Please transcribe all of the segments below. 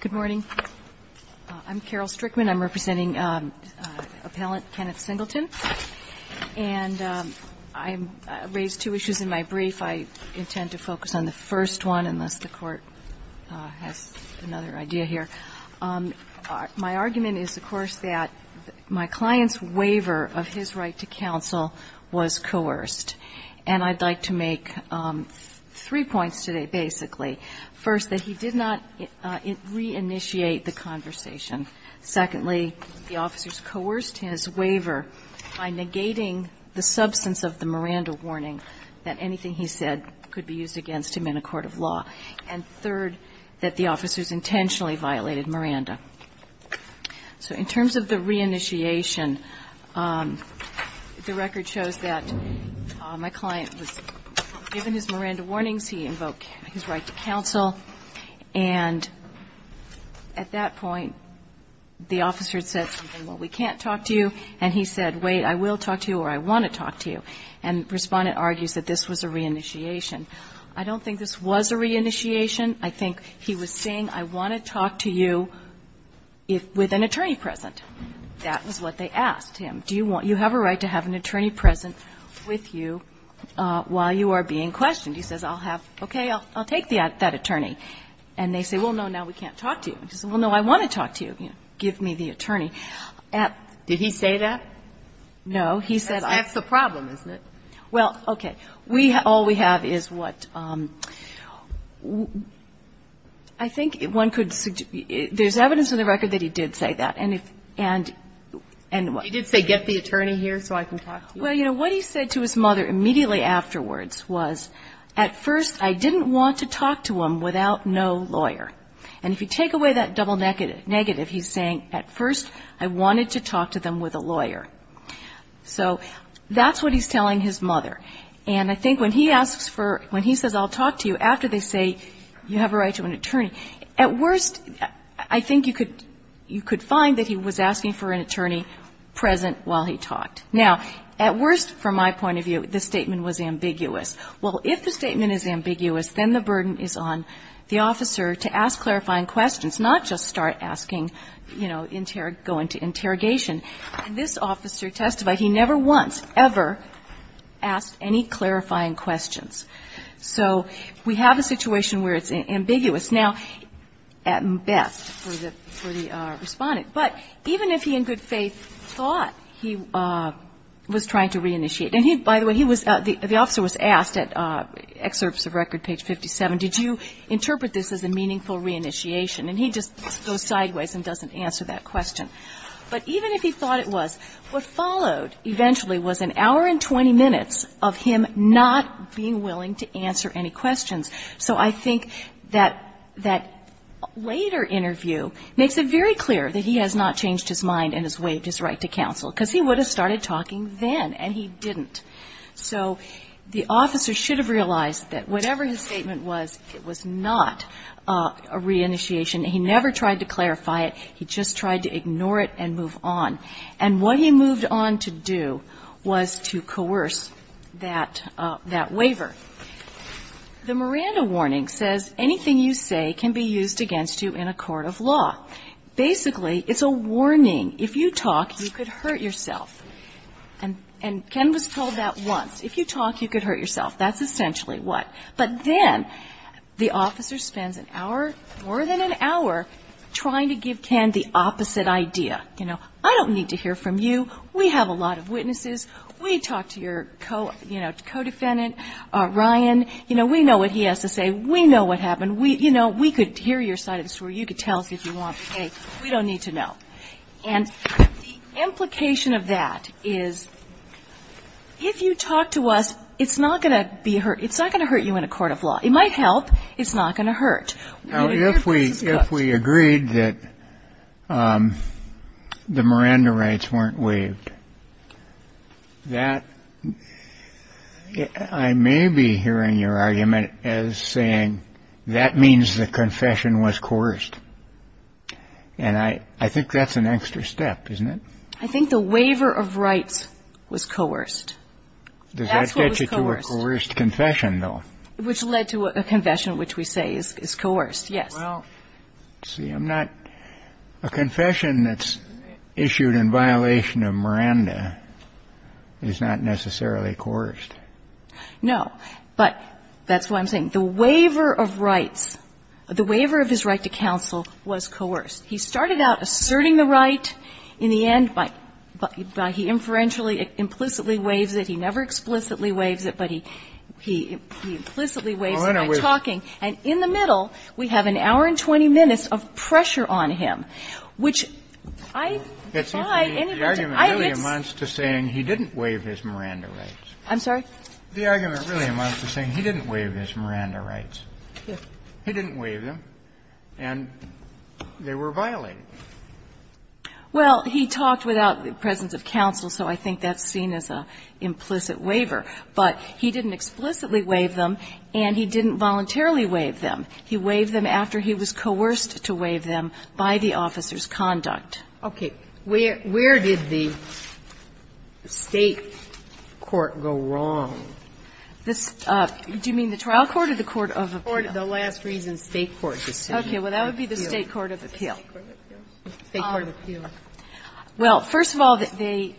Good morning. I'm Carol Strickman, I'm representing Appellant Kenneth Singleton. And I raised two issues in my brief. If I intend to focus on the first one, unless the Court has another idea here, my argument is, of course, that my client's waiver of his right to counsel was coerced. And I'd like to make three points today, basically. First, that he did not reinitiate the conversation. Secondly, the officers coerced his waiver by negating the substance of the Miranda warning, that anything he said could be used against him in a court of law. And third, that the officers intentionally violated Miranda. So in terms of the reinitiation, the record shows that my client was given his Miranda warnings, he invoked his right to counsel, and at that point, the officer said, well, we can't talk to you, and he said, wait, I will talk to you or I want to talk to you. And the Respondent argues that this was a reinitiation. I don't think this was a reinitiation. I think he was saying, I want to talk to you with an attorney present. That was what they asked him. Do you want to have a right to have an attorney present with you while you are being questioned? He says, okay, I'll take that attorney. And they say, well, no, now we can't talk to you. He said, well, no, I want to talk to you. Did he say that? No. He said, I'm going to talk to you. Well, okay. All we have is what – I think one could – there's evidence in the record that he did say that. And if – and what? He did say, get the attorney here so I can talk to you. Well, you know, what he said to his mother immediately afterwards was, at first, I didn't want to talk to him without no lawyer. And if you take away that double negative, he's saying, at first, I wanted to talk to them with a lawyer. So that's what he's telling his mother. And I think when he asks for – when he says, I'll talk to you, after they say, you have a right to an attorney, at worst, I think you could find that he was asking for an attorney present while he talked. Now, at worst, from my point of view, the statement was ambiguous. Well, if the statement is ambiguous, then the burden is on the officer to ask clarifying questions, not just start asking, you know, go into interrogation. And this officer testified he never once ever asked any clarifying questions. So we have a situation where it's ambiguous. Now, at best, for the – for the respondent, but even if he in good faith thought he was trying to reinitiate – and he – by the way, he was – the officer was asked at excerpts of record, page 57, did you interpret this as a meaningful reinitiation? And he just goes sideways and doesn't answer that question. But even if he thought it was, what followed eventually was an hour and 20 minutes of him not being willing to answer any questions. So I think that that later interview makes it very clear that he has not changed his mind and has waived his right to counsel, because he would have started talking then, and he didn't. So the officer should have realized that whatever his statement was, it was not a reinitiation. He never tried to clarify it. He just tried to ignore it and move on. And what he moved on to do was to coerce that waiver. The Miranda warning says anything you say can be used against you in a court of law. Basically, it's a warning. If you talk, you could hurt yourself. And Ken was told that once. If you talk, you could hurt yourself. That's essentially what. But then the officer spends an hour, more than an hour, trying to give Ken the opposite idea. You know, I don't need to hear from you. We have a lot of witnesses. We talked to your, you know, co-defendant, Ryan. You know, we know what he has to say. We know what happened. We, you know, we could hear your side of the story. You could tell us if you want, but, hey, we don't need to know. And the implication of that is if you talk to us, it's not going to be hurt. It's not going to hurt you in a court of law. It might help. It's not going to hurt. Now, if we agreed that the Miranda rights weren't waived, that I may be hearing your argument as saying that means the confession was coerced. And I think that's an extra step, isn't it? I think the waiver of rights was coerced. That's what was coerced. Kennedy, that gets you to a coerced confession, though. Which led to a confession which we say is coerced, yes. Well, see, I'm not – a confession that's issued in violation of Miranda is not necessarily coerced. No, but that's what I'm saying. The waiver of rights, the waiver of his right to counsel was coerced. He started out asserting the right in the end by – by he inferentially, implicitly waives it. He never explicitly waives it, but he implicitly waives it by talking. And in the middle, we have an hour and 20 minutes of pressure on him, which I find anybody to – I think it's – The argument really amounts to saying he didn't waive his Miranda rights. I'm sorry? The argument really amounts to saying he didn't waive his Miranda rights. He didn't waive them. And they were violated. Well, he talked without the presence of counsel, so I think that's seen as an implicit waiver. But he didn't explicitly waive them, and he didn't voluntarily waive them. He waived them after he was coerced to waive them by the officer's conduct. Okay. Where did the State court go wrong? This – do you mean the trial court or the court of appeal? Or the last reason State court decision. Okay. Well, that would be the State court of appeal. State court of appeal. Well, first of all, they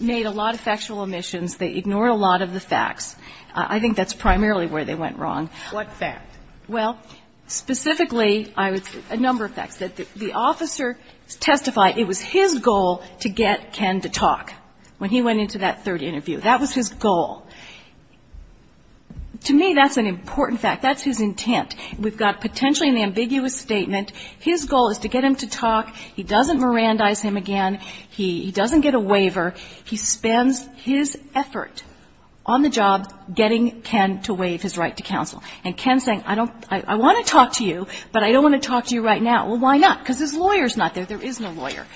made a lot of factual omissions. They ignored a lot of the facts. I think that's primarily where they went wrong. What fact? Well, specifically, I would say a number of facts. The officer testified it was his goal to get Ken to talk when he went into that third interview. That was his goal. To me, that's an important fact. That's his intent. We've got potentially an ambiguous statement. His goal is to get him to talk. He doesn't Mirandize him again. He doesn't get a waiver. He spends his effort on the job getting Ken to waive his right to counsel. And Ken's saying, I don't – I want to talk to you, but I don't want to talk to you right now. Well, why not? Because his lawyer's not there. There is no lawyer.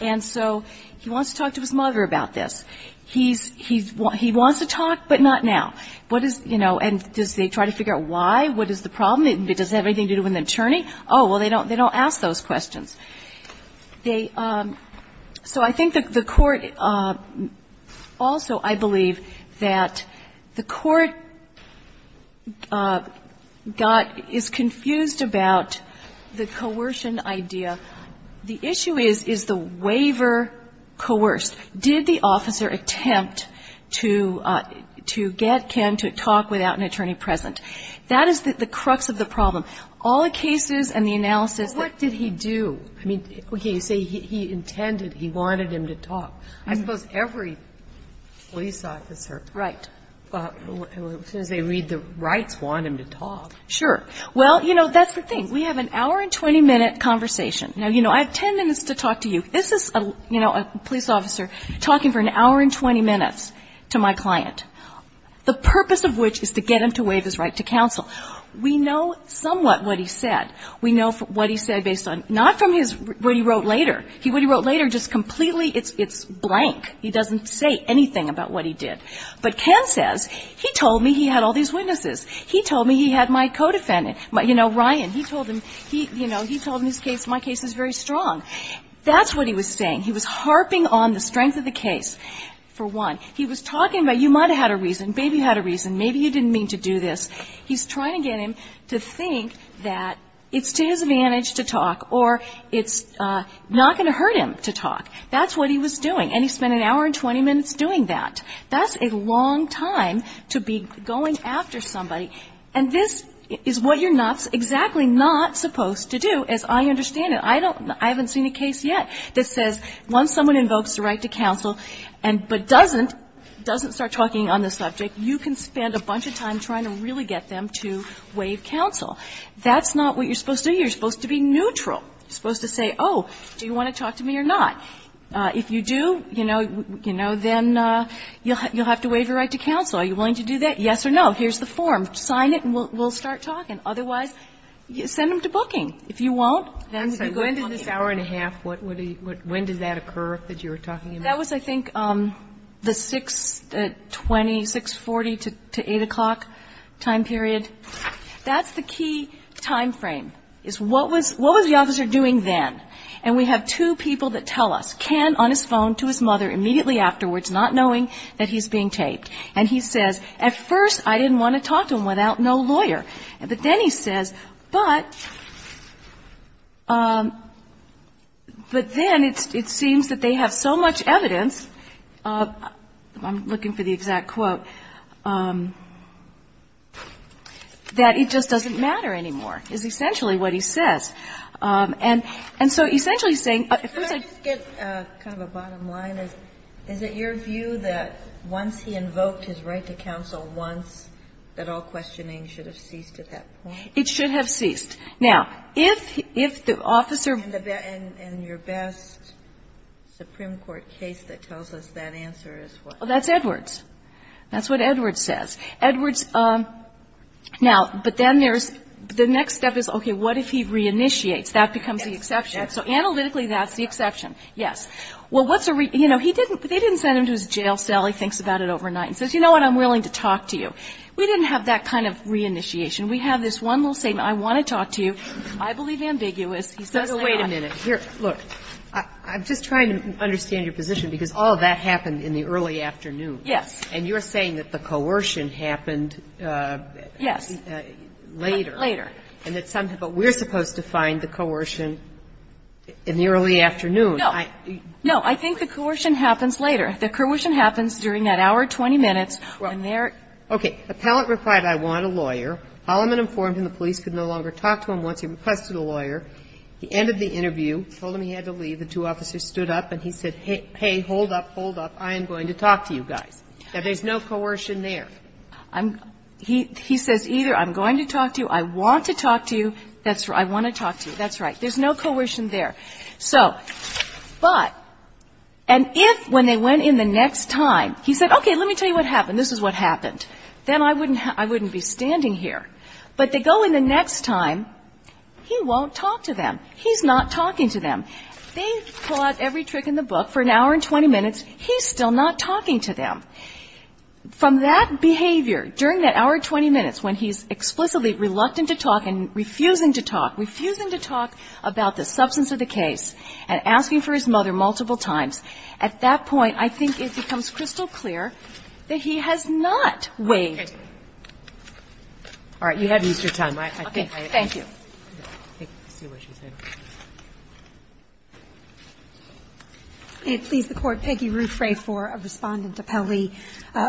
And so he wants to talk to his mother about this. He's – he wants to talk, but not now. What is – you know, and does they try to figure out why? What is the problem? Does it have anything to do with an attorney? Oh, well, they don't ask those questions. They – so I think the court also, I believe, that the court got – is confused about the coercion idea. The issue is, is the waiver coerced? Did the officer attempt to get Ken to talk without an attorney present? That is the crux of the problem. All the cases and the analysis that – But what did he do? I mean, okay, you say he intended – he wanted him to talk. I suppose every police officer – Right. As soon as they read the rights, want him to talk. Sure. Well, you know, that's the thing. We have an hour and 20-minute conversation. Now, you know, I have 10 minutes to talk to you. This is, you know, a police officer talking for an hour and 20 minutes to my client, the purpose of which is to get him to waive his right to counsel. We know somewhat what he said. We know what he said based on – not from his – what he wrote later. What he wrote later just completely – it's blank. He doesn't say anything about what he did. But Ken says, he told me he had all these witnesses. He told me he had my co-defendant. You know, Ryan, he told him – he, you know, he told him his case – my case is very strong. That's what he was saying. He was harping on the strength of the case, for one. He was talking about you might have had a reason, maybe you had a reason, maybe you didn't mean to do this. He's trying to get him to think that it's to his advantage to talk or it's not going to hurt him to talk. That's what he was doing. And he spent an hour and 20 minutes doing that. That's a long time to be going after somebody. And this is what you're not – exactly not supposed to do, as I understand it. I don't – I haven't seen a case yet that says once someone invokes the right to counsel and – but doesn't, doesn't start talking on the subject, you can spend a bunch of time trying to really get them to waive counsel. That's not what you're supposed to do. You're supposed to be neutral. You're supposed to say, oh, do you want to talk to me or not? If you do, you know, then you'll have to waive your right to counsel. Are you willing to do that? Yes or no? Here's the form. Sign it and we'll start talking. Otherwise, send them to booking. If you won't, then you go to booking. Kagan. Kagan. And what about the hour and a half? What would he – when did that occur that you're talking about? That was, I think, the 620, 640 to 8 o'clock time period. That's the key time frame, is what was the officer doing then? And we have two people that tell us. Ken on his phone to his mother immediately afterwards, not knowing that he's being taped. And he says, at first, I didn't want to talk to him without no lawyer. But then he says, but then it seems that they have so much evidence, I'm looking for the exact quote, that it just doesn't matter anymore, is essentially what he says. And so essentially he's saying – Can I just get kind of a bottom line? Is it your view that once he invoked his right to counsel once, that all questioning should have ceased at that point? It should have ceased. Now, if the officer – And your best Supreme Court case that tells us that answer is what? That's Edwards. That's what Edwards says. Edwards – now, but then there's – the next step is, okay, what if he reinitiates? That becomes the exception. So analytically, that's the exception, yes. Well, what's a – you know, he didn't – they didn't send him to his jail cell. He thinks about it overnight and says, you know what, I'm willing to talk to you. We didn't have that kind of reinitiation. We have this one little statement, I want to talk to you. I believe ambiguous. He says that – Wait a minute. Here – look. I'm just trying to understand your position, because all of that happened in the early afternoon. Yes. And you're saying that the coercion happened later. Later. And that some – but we're supposed to find the coercion in the early afternoon. No. No. I think the coercion happens later. The coercion happens during that hour or 20 minutes when they're – Okay. Appellant replied, I want a lawyer. Holloman informed him the police could no longer talk to him once he requested a lawyer. He ended the interview, told him he had to leave. The two officers stood up and he said, hey, hold up, hold up, I am going to talk to you guys. Now, there's no coercion there. I'm – he says either I'm going to talk to you, I want to talk to you, that's right, I want to talk to you, that's right. There's no coercion there. So – but and if when they went in the next time, he said, okay, let me tell you what happened, this is what happened, then I wouldn't be standing here. But they go in the next time, he won't talk to them. He's not talking to them. They pull out every trick in the book. For an hour and 20 minutes, he's still not talking to them. From that behavior, during that hour and 20 minutes when he's explicitly reluctant to talk and refusing to talk, refusing to talk about the substance of the case, and asking for his mother multiple times, at that point, I think it becomes crystal clear that he has not waived. All right. You haven't used your time. I think I – Okay. Thank you. I think I see what she's saying. May it please the Court, Peggy Ruffray for a respondent appellee.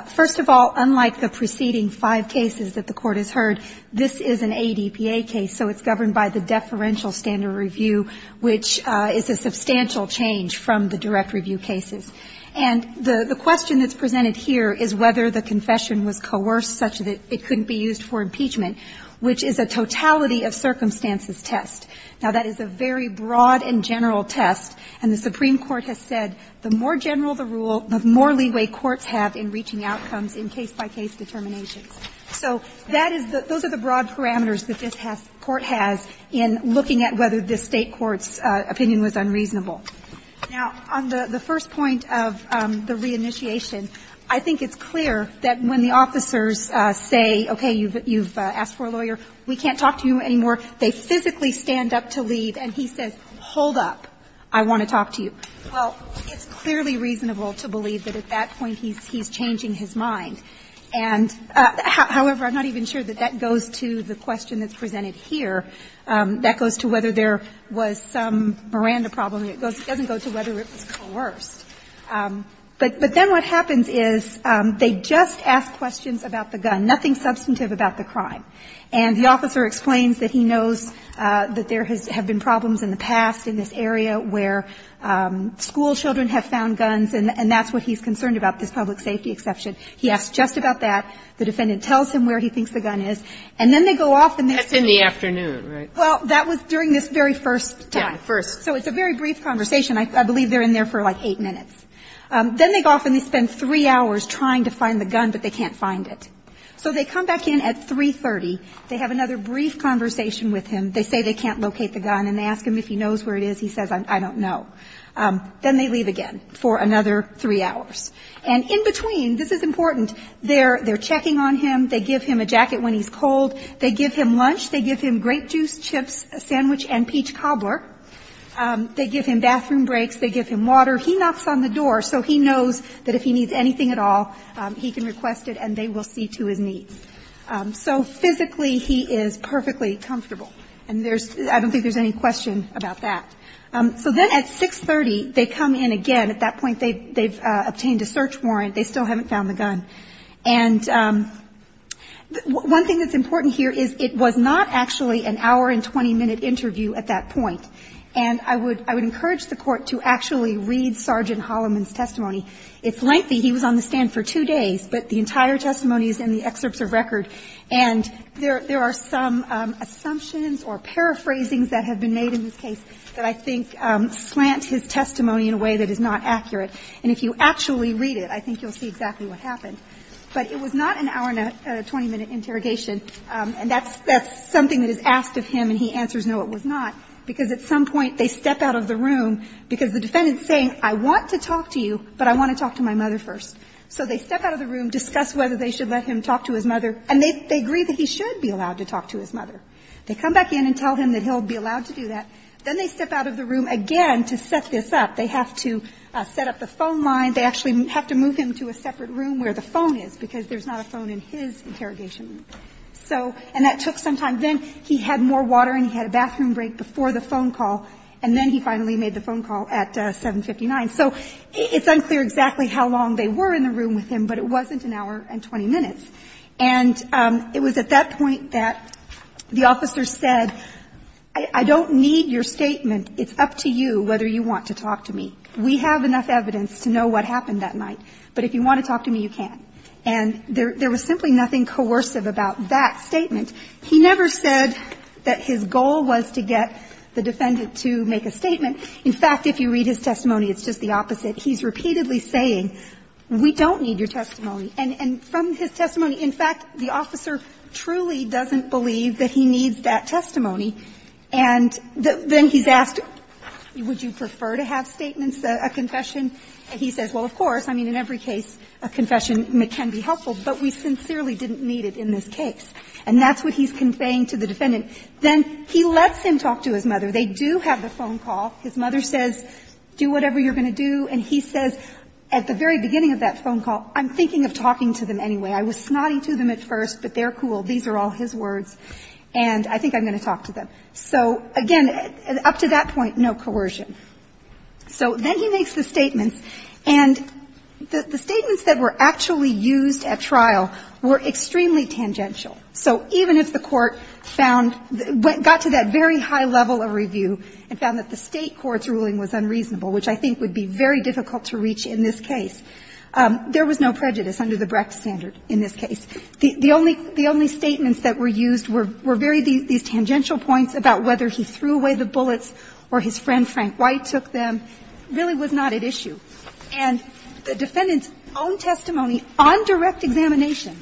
First of all, unlike the preceding five cases that the Court has heard, this is an ADPA case, so it's governed by the deferential standard review, which is a substantial change from the direct review cases. And the question that's presented here is whether the confession was coerced such that it couldn't be used for impeachment, which is a totality of circumstances test. Now, that is a very broad and general test, and the Supreme Court has said the more general the rule, the more leeway courts have in reaching outcomes in case-by-case determinations. So that is the – those are the broad parameters that this has – court has in looking at whether this State court's opinion was unreasonable. Now, on the first point of the reinitiation, I think it's clear that when the officers say, okay, you've asked for a lawyer, we can't talk to you anymore, they physically stand up to leave, and he says, hold up, I want to talk to you. Well, it's clearly reasonable to believe that at that point he's changing his mind. And I think that's a very However, I'm not even sure that that goes to the question that's presented here. That goes to whether there was some Miranda problem. It doesn't go to whether it was coerced. But then what happens is they just ask questions about the gun, nothing substantive about the crime. And the officer explains that he knows that there have been problems in the past in this area where school children have found guns, and that's what he's concerned about, this public safety exception. He asks just about that. The defendant tells him where he thinks the gun is. And then they go off and they say That's in the afternoon, right? Well, that was during this very first time. Yeah, first. So it's a very brief conversation. I believe they're in there for like eight minutes. Then they go off and they spend three hours trying to find the gun, but they can't find it. So they come back in at 3.30. They have another brief conversation with him. They say they can't locate the gun, and they ask him if he knows where it is. He says, I don't know. Then they leave again for another three hours. And in between this is important. They're checking on him. They give him a jacket when he's cold. They give him lunch. They give him grape juice, chips, a sandwich, and peach cobbler. They give him bathroom breaks. They give him water. He knocks on the door so he knows that if he needs anything at all, he can request it and they will see to his needs. So physically, he is perfectly comfortable. And there's – I don't think there's any question about that. So then at 6.30, they come in again. At that point, they've obtained a search warrant. They still haven't found the gun. And one thing that's important here is it was not actually an hour-and-20-minute interview at that point. And I would encourage the Court to actually read Sergeant Holloman's testimony. It's lengthy. He was on the stand for two days, but the entire testimony is in the excerpts of record. And there are some assumptions or paraphrasings that have been made in this case that I think slant his testimony in a way that is not accurate. And if you actually read it, I think you'll see exactly what happened. But it was not an hour-and-20-minute interrogation. And that's – that's something that is asked of him and he answers, no, it was not, because at some point, they step out of the room, because the defendant is saying, I want to talk to you, but I want to talk to my mother first. So they step out of the room, discuss whether they should let him talk to his mother, and they agree that he should be allowed to talk to his mother. They come back in and tell him that he'll be allowed to do that. Then they step out of the room again to set this up. They have to set up the phone line. They actually have to move him to a separate room where the phone is, because there's not a phone in his interrogation room. So – and that took some time. Then he had more water and he had a bathroom break before the phone call, and then he finally made the phone call at 759. So it's unclear exactly how long they were in the room with him, but it wasn't an hour-and-20 minutes. And it was at that point that the officer said, I don't need your statement. It's up to you whether you want to talk to me. We have enough evidence to know what happened that night, but if you want to talk to me, you can't. And there was simply nothing coercive about that statement. He never said that his goal was to get the defendant to make a statement. In fact, if you read his testimony, it's just the opposite. He's repeatedly saying, we don't need your testimony. And from his testimony, in fact, the officer truly doesn't believe that he needs that testimony. And then he's asked, would you prefer to have statements, a confession? And he says, well, of course. I mean, in every case, a confession can be helpful, but we sincerely didn't need it in this case. And that's what he's conveying to the defendant. Then he lets him talk to his mother. They do have the phone call. His mother says, do whatever you're going to do. And he says, at the very beginning of that phone call, I'm thinking of talking to them anyway. I was snotty to them at first, but they're cool. These are all his words. And I think I'm going to talk to them. So, again, up to that point, no coercion. So then he makes the statements. And the statements that were actually used at trial were extremely tangential. So even if the Court found the – got to that very high level of review and found that the State court's ruling was unreasonable, which I think would be very difficult to reach in this case, there was no prejudice under the Brecht standard in this case. The only – the only statements that were used were very – these tangential points about whether he threw away the bullets or his friend Frank White took them really was not at issue. And the defendant's own testimony on direct examination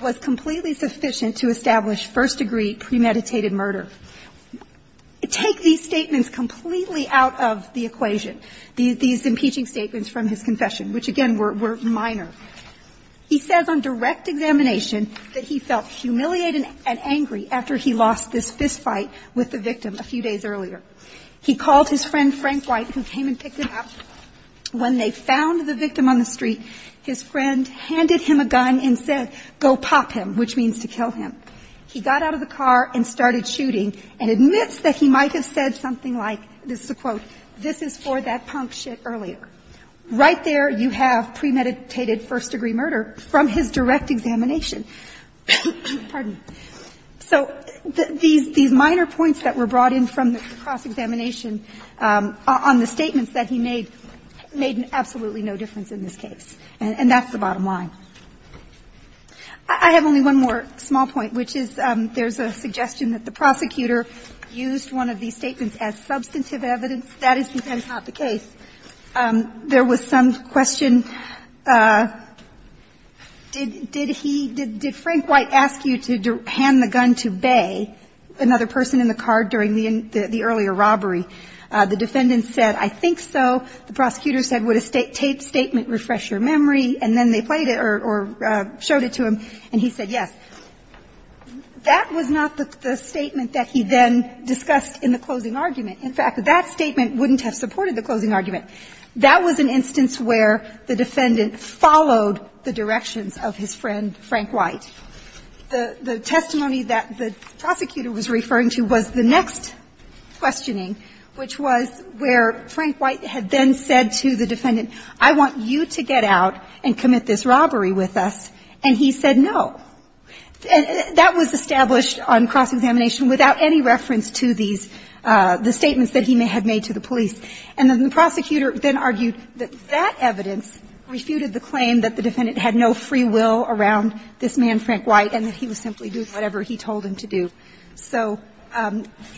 was completely sufficient to establish first-degree premeditated murder. Take these statements completely out of the equation, these impeaching statements from his confession, which, again, were minor. He says on direct examination that he felt humiliated and angry after he lost this fist fight with the victim a few days earlier. He called his friend Frank White, who came and picked him up. When they found the victim on the street, his friend handed him a gun and said, go pop him, which means to kill him. He got out of the car and started shooting and admits that he might have said something like – this is a quote – this is for that punk shit earlier. Right there, you have premeditated first-degree murder from his direct examination. Pardon me. So these – these minor points that were brought in from the cross-examination on the statements that he made made absolutely no difference in this case. And that's the bottom line. I have only one more small point, which is there's a suggestion that the prosecutor used one of these statements as substantive evidence. That is not the case. There was some question, did he – did Frank White ask you to hand the gun to Bay, another person in the car during the earlier robbery? The defendant said, I think so. The prosecutor said, would a statement refresh your memory? And then they played it or showed it to him, and he said yes. That was not the statement that he then discussed in the closing argument. In fact, that statement wouldn't have supported the closing argument. That was an instance where the defendant followed the directions of his friend Frank White. The – the testimony that the prosecutor was referring to was the next questioning, which was where Frank White had then said to the defendant, I want you to get out and commit this robbery with us, and he said no. And that was established on cross-examination without any reference to these – the statements that he had made to the police. And then the prosecutor then argued that that evidence refuted the claim that the defendant had no free will around this man, Frank White, and that he would simply do whatever he told him to do. So,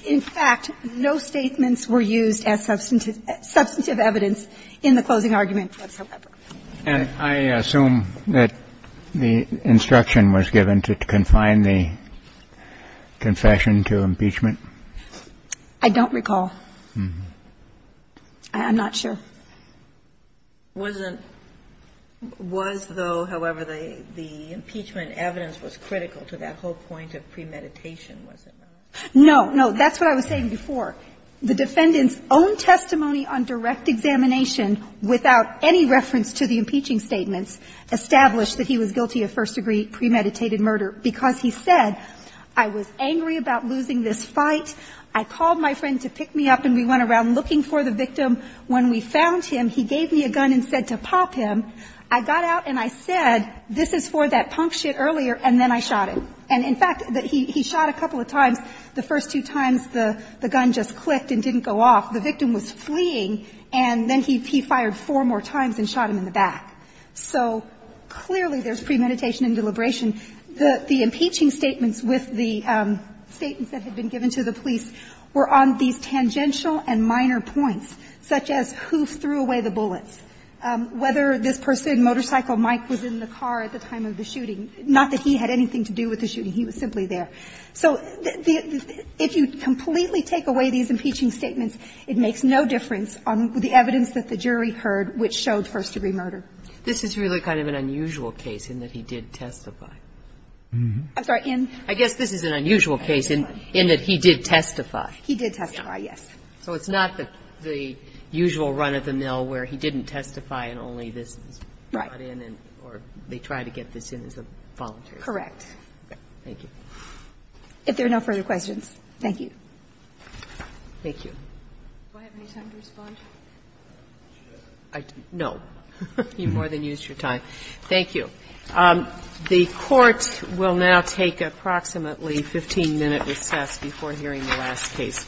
in fact, no statements were used as substantive evidence in the closing argument whatsoever. And I assume that the instruction was given to confine the confession to impeachment? I don't recall. I'm not sure. Wasn't – was, though, however, the impeachment evidence was critical to that whole point of premeditation, was it not? No. No. That's what I was saying before. The defendant's own testimony on direct examination without any reference to the impeaching statements established that he was guilty of first-degree premeditated murder because he said, I was angry about losing this fight. I called my friend to pick me up, and we went around looking for the victim. When we found him, he gave me a gun and said to pop him. I got out, and I said, this is for that punk shit earlier, and then I shot him. And, in fact, he shot a couple of times. The first two times, the gun just clicked and didn't go off. The victim was fleeing, and then he fired four more times and shot him in the back. So clearly, there's premeditation and deliberation. The impeaching statements with the statements that had been given to the police were on these tangential and minor points, such as who threw away the bullets, whether this person, motorcycle Mike, was in the car at the time of the shooting, not that he had anything to do with the shooting. He was simply there. So if you completely take away these impeaching statements, it makes no difference on the evidence that the jury heard which showed first-degree murder. This is really kind of an unusual case in that he did testify. I'm sorry. In? I guess this is an unusual case in that he did testify. He did testify, yes. So it's not the usual run-of-the-mill where he didn't testify and only this was brought in, or they tried to get this in as a voluntary case. Correct. Thank you. If there are no further questions, thank you. Thank you. Do I have any time to respond? No. You've more than used your time. Thank you. The Court will now take approximately 15 minutes recess before hearing the last case.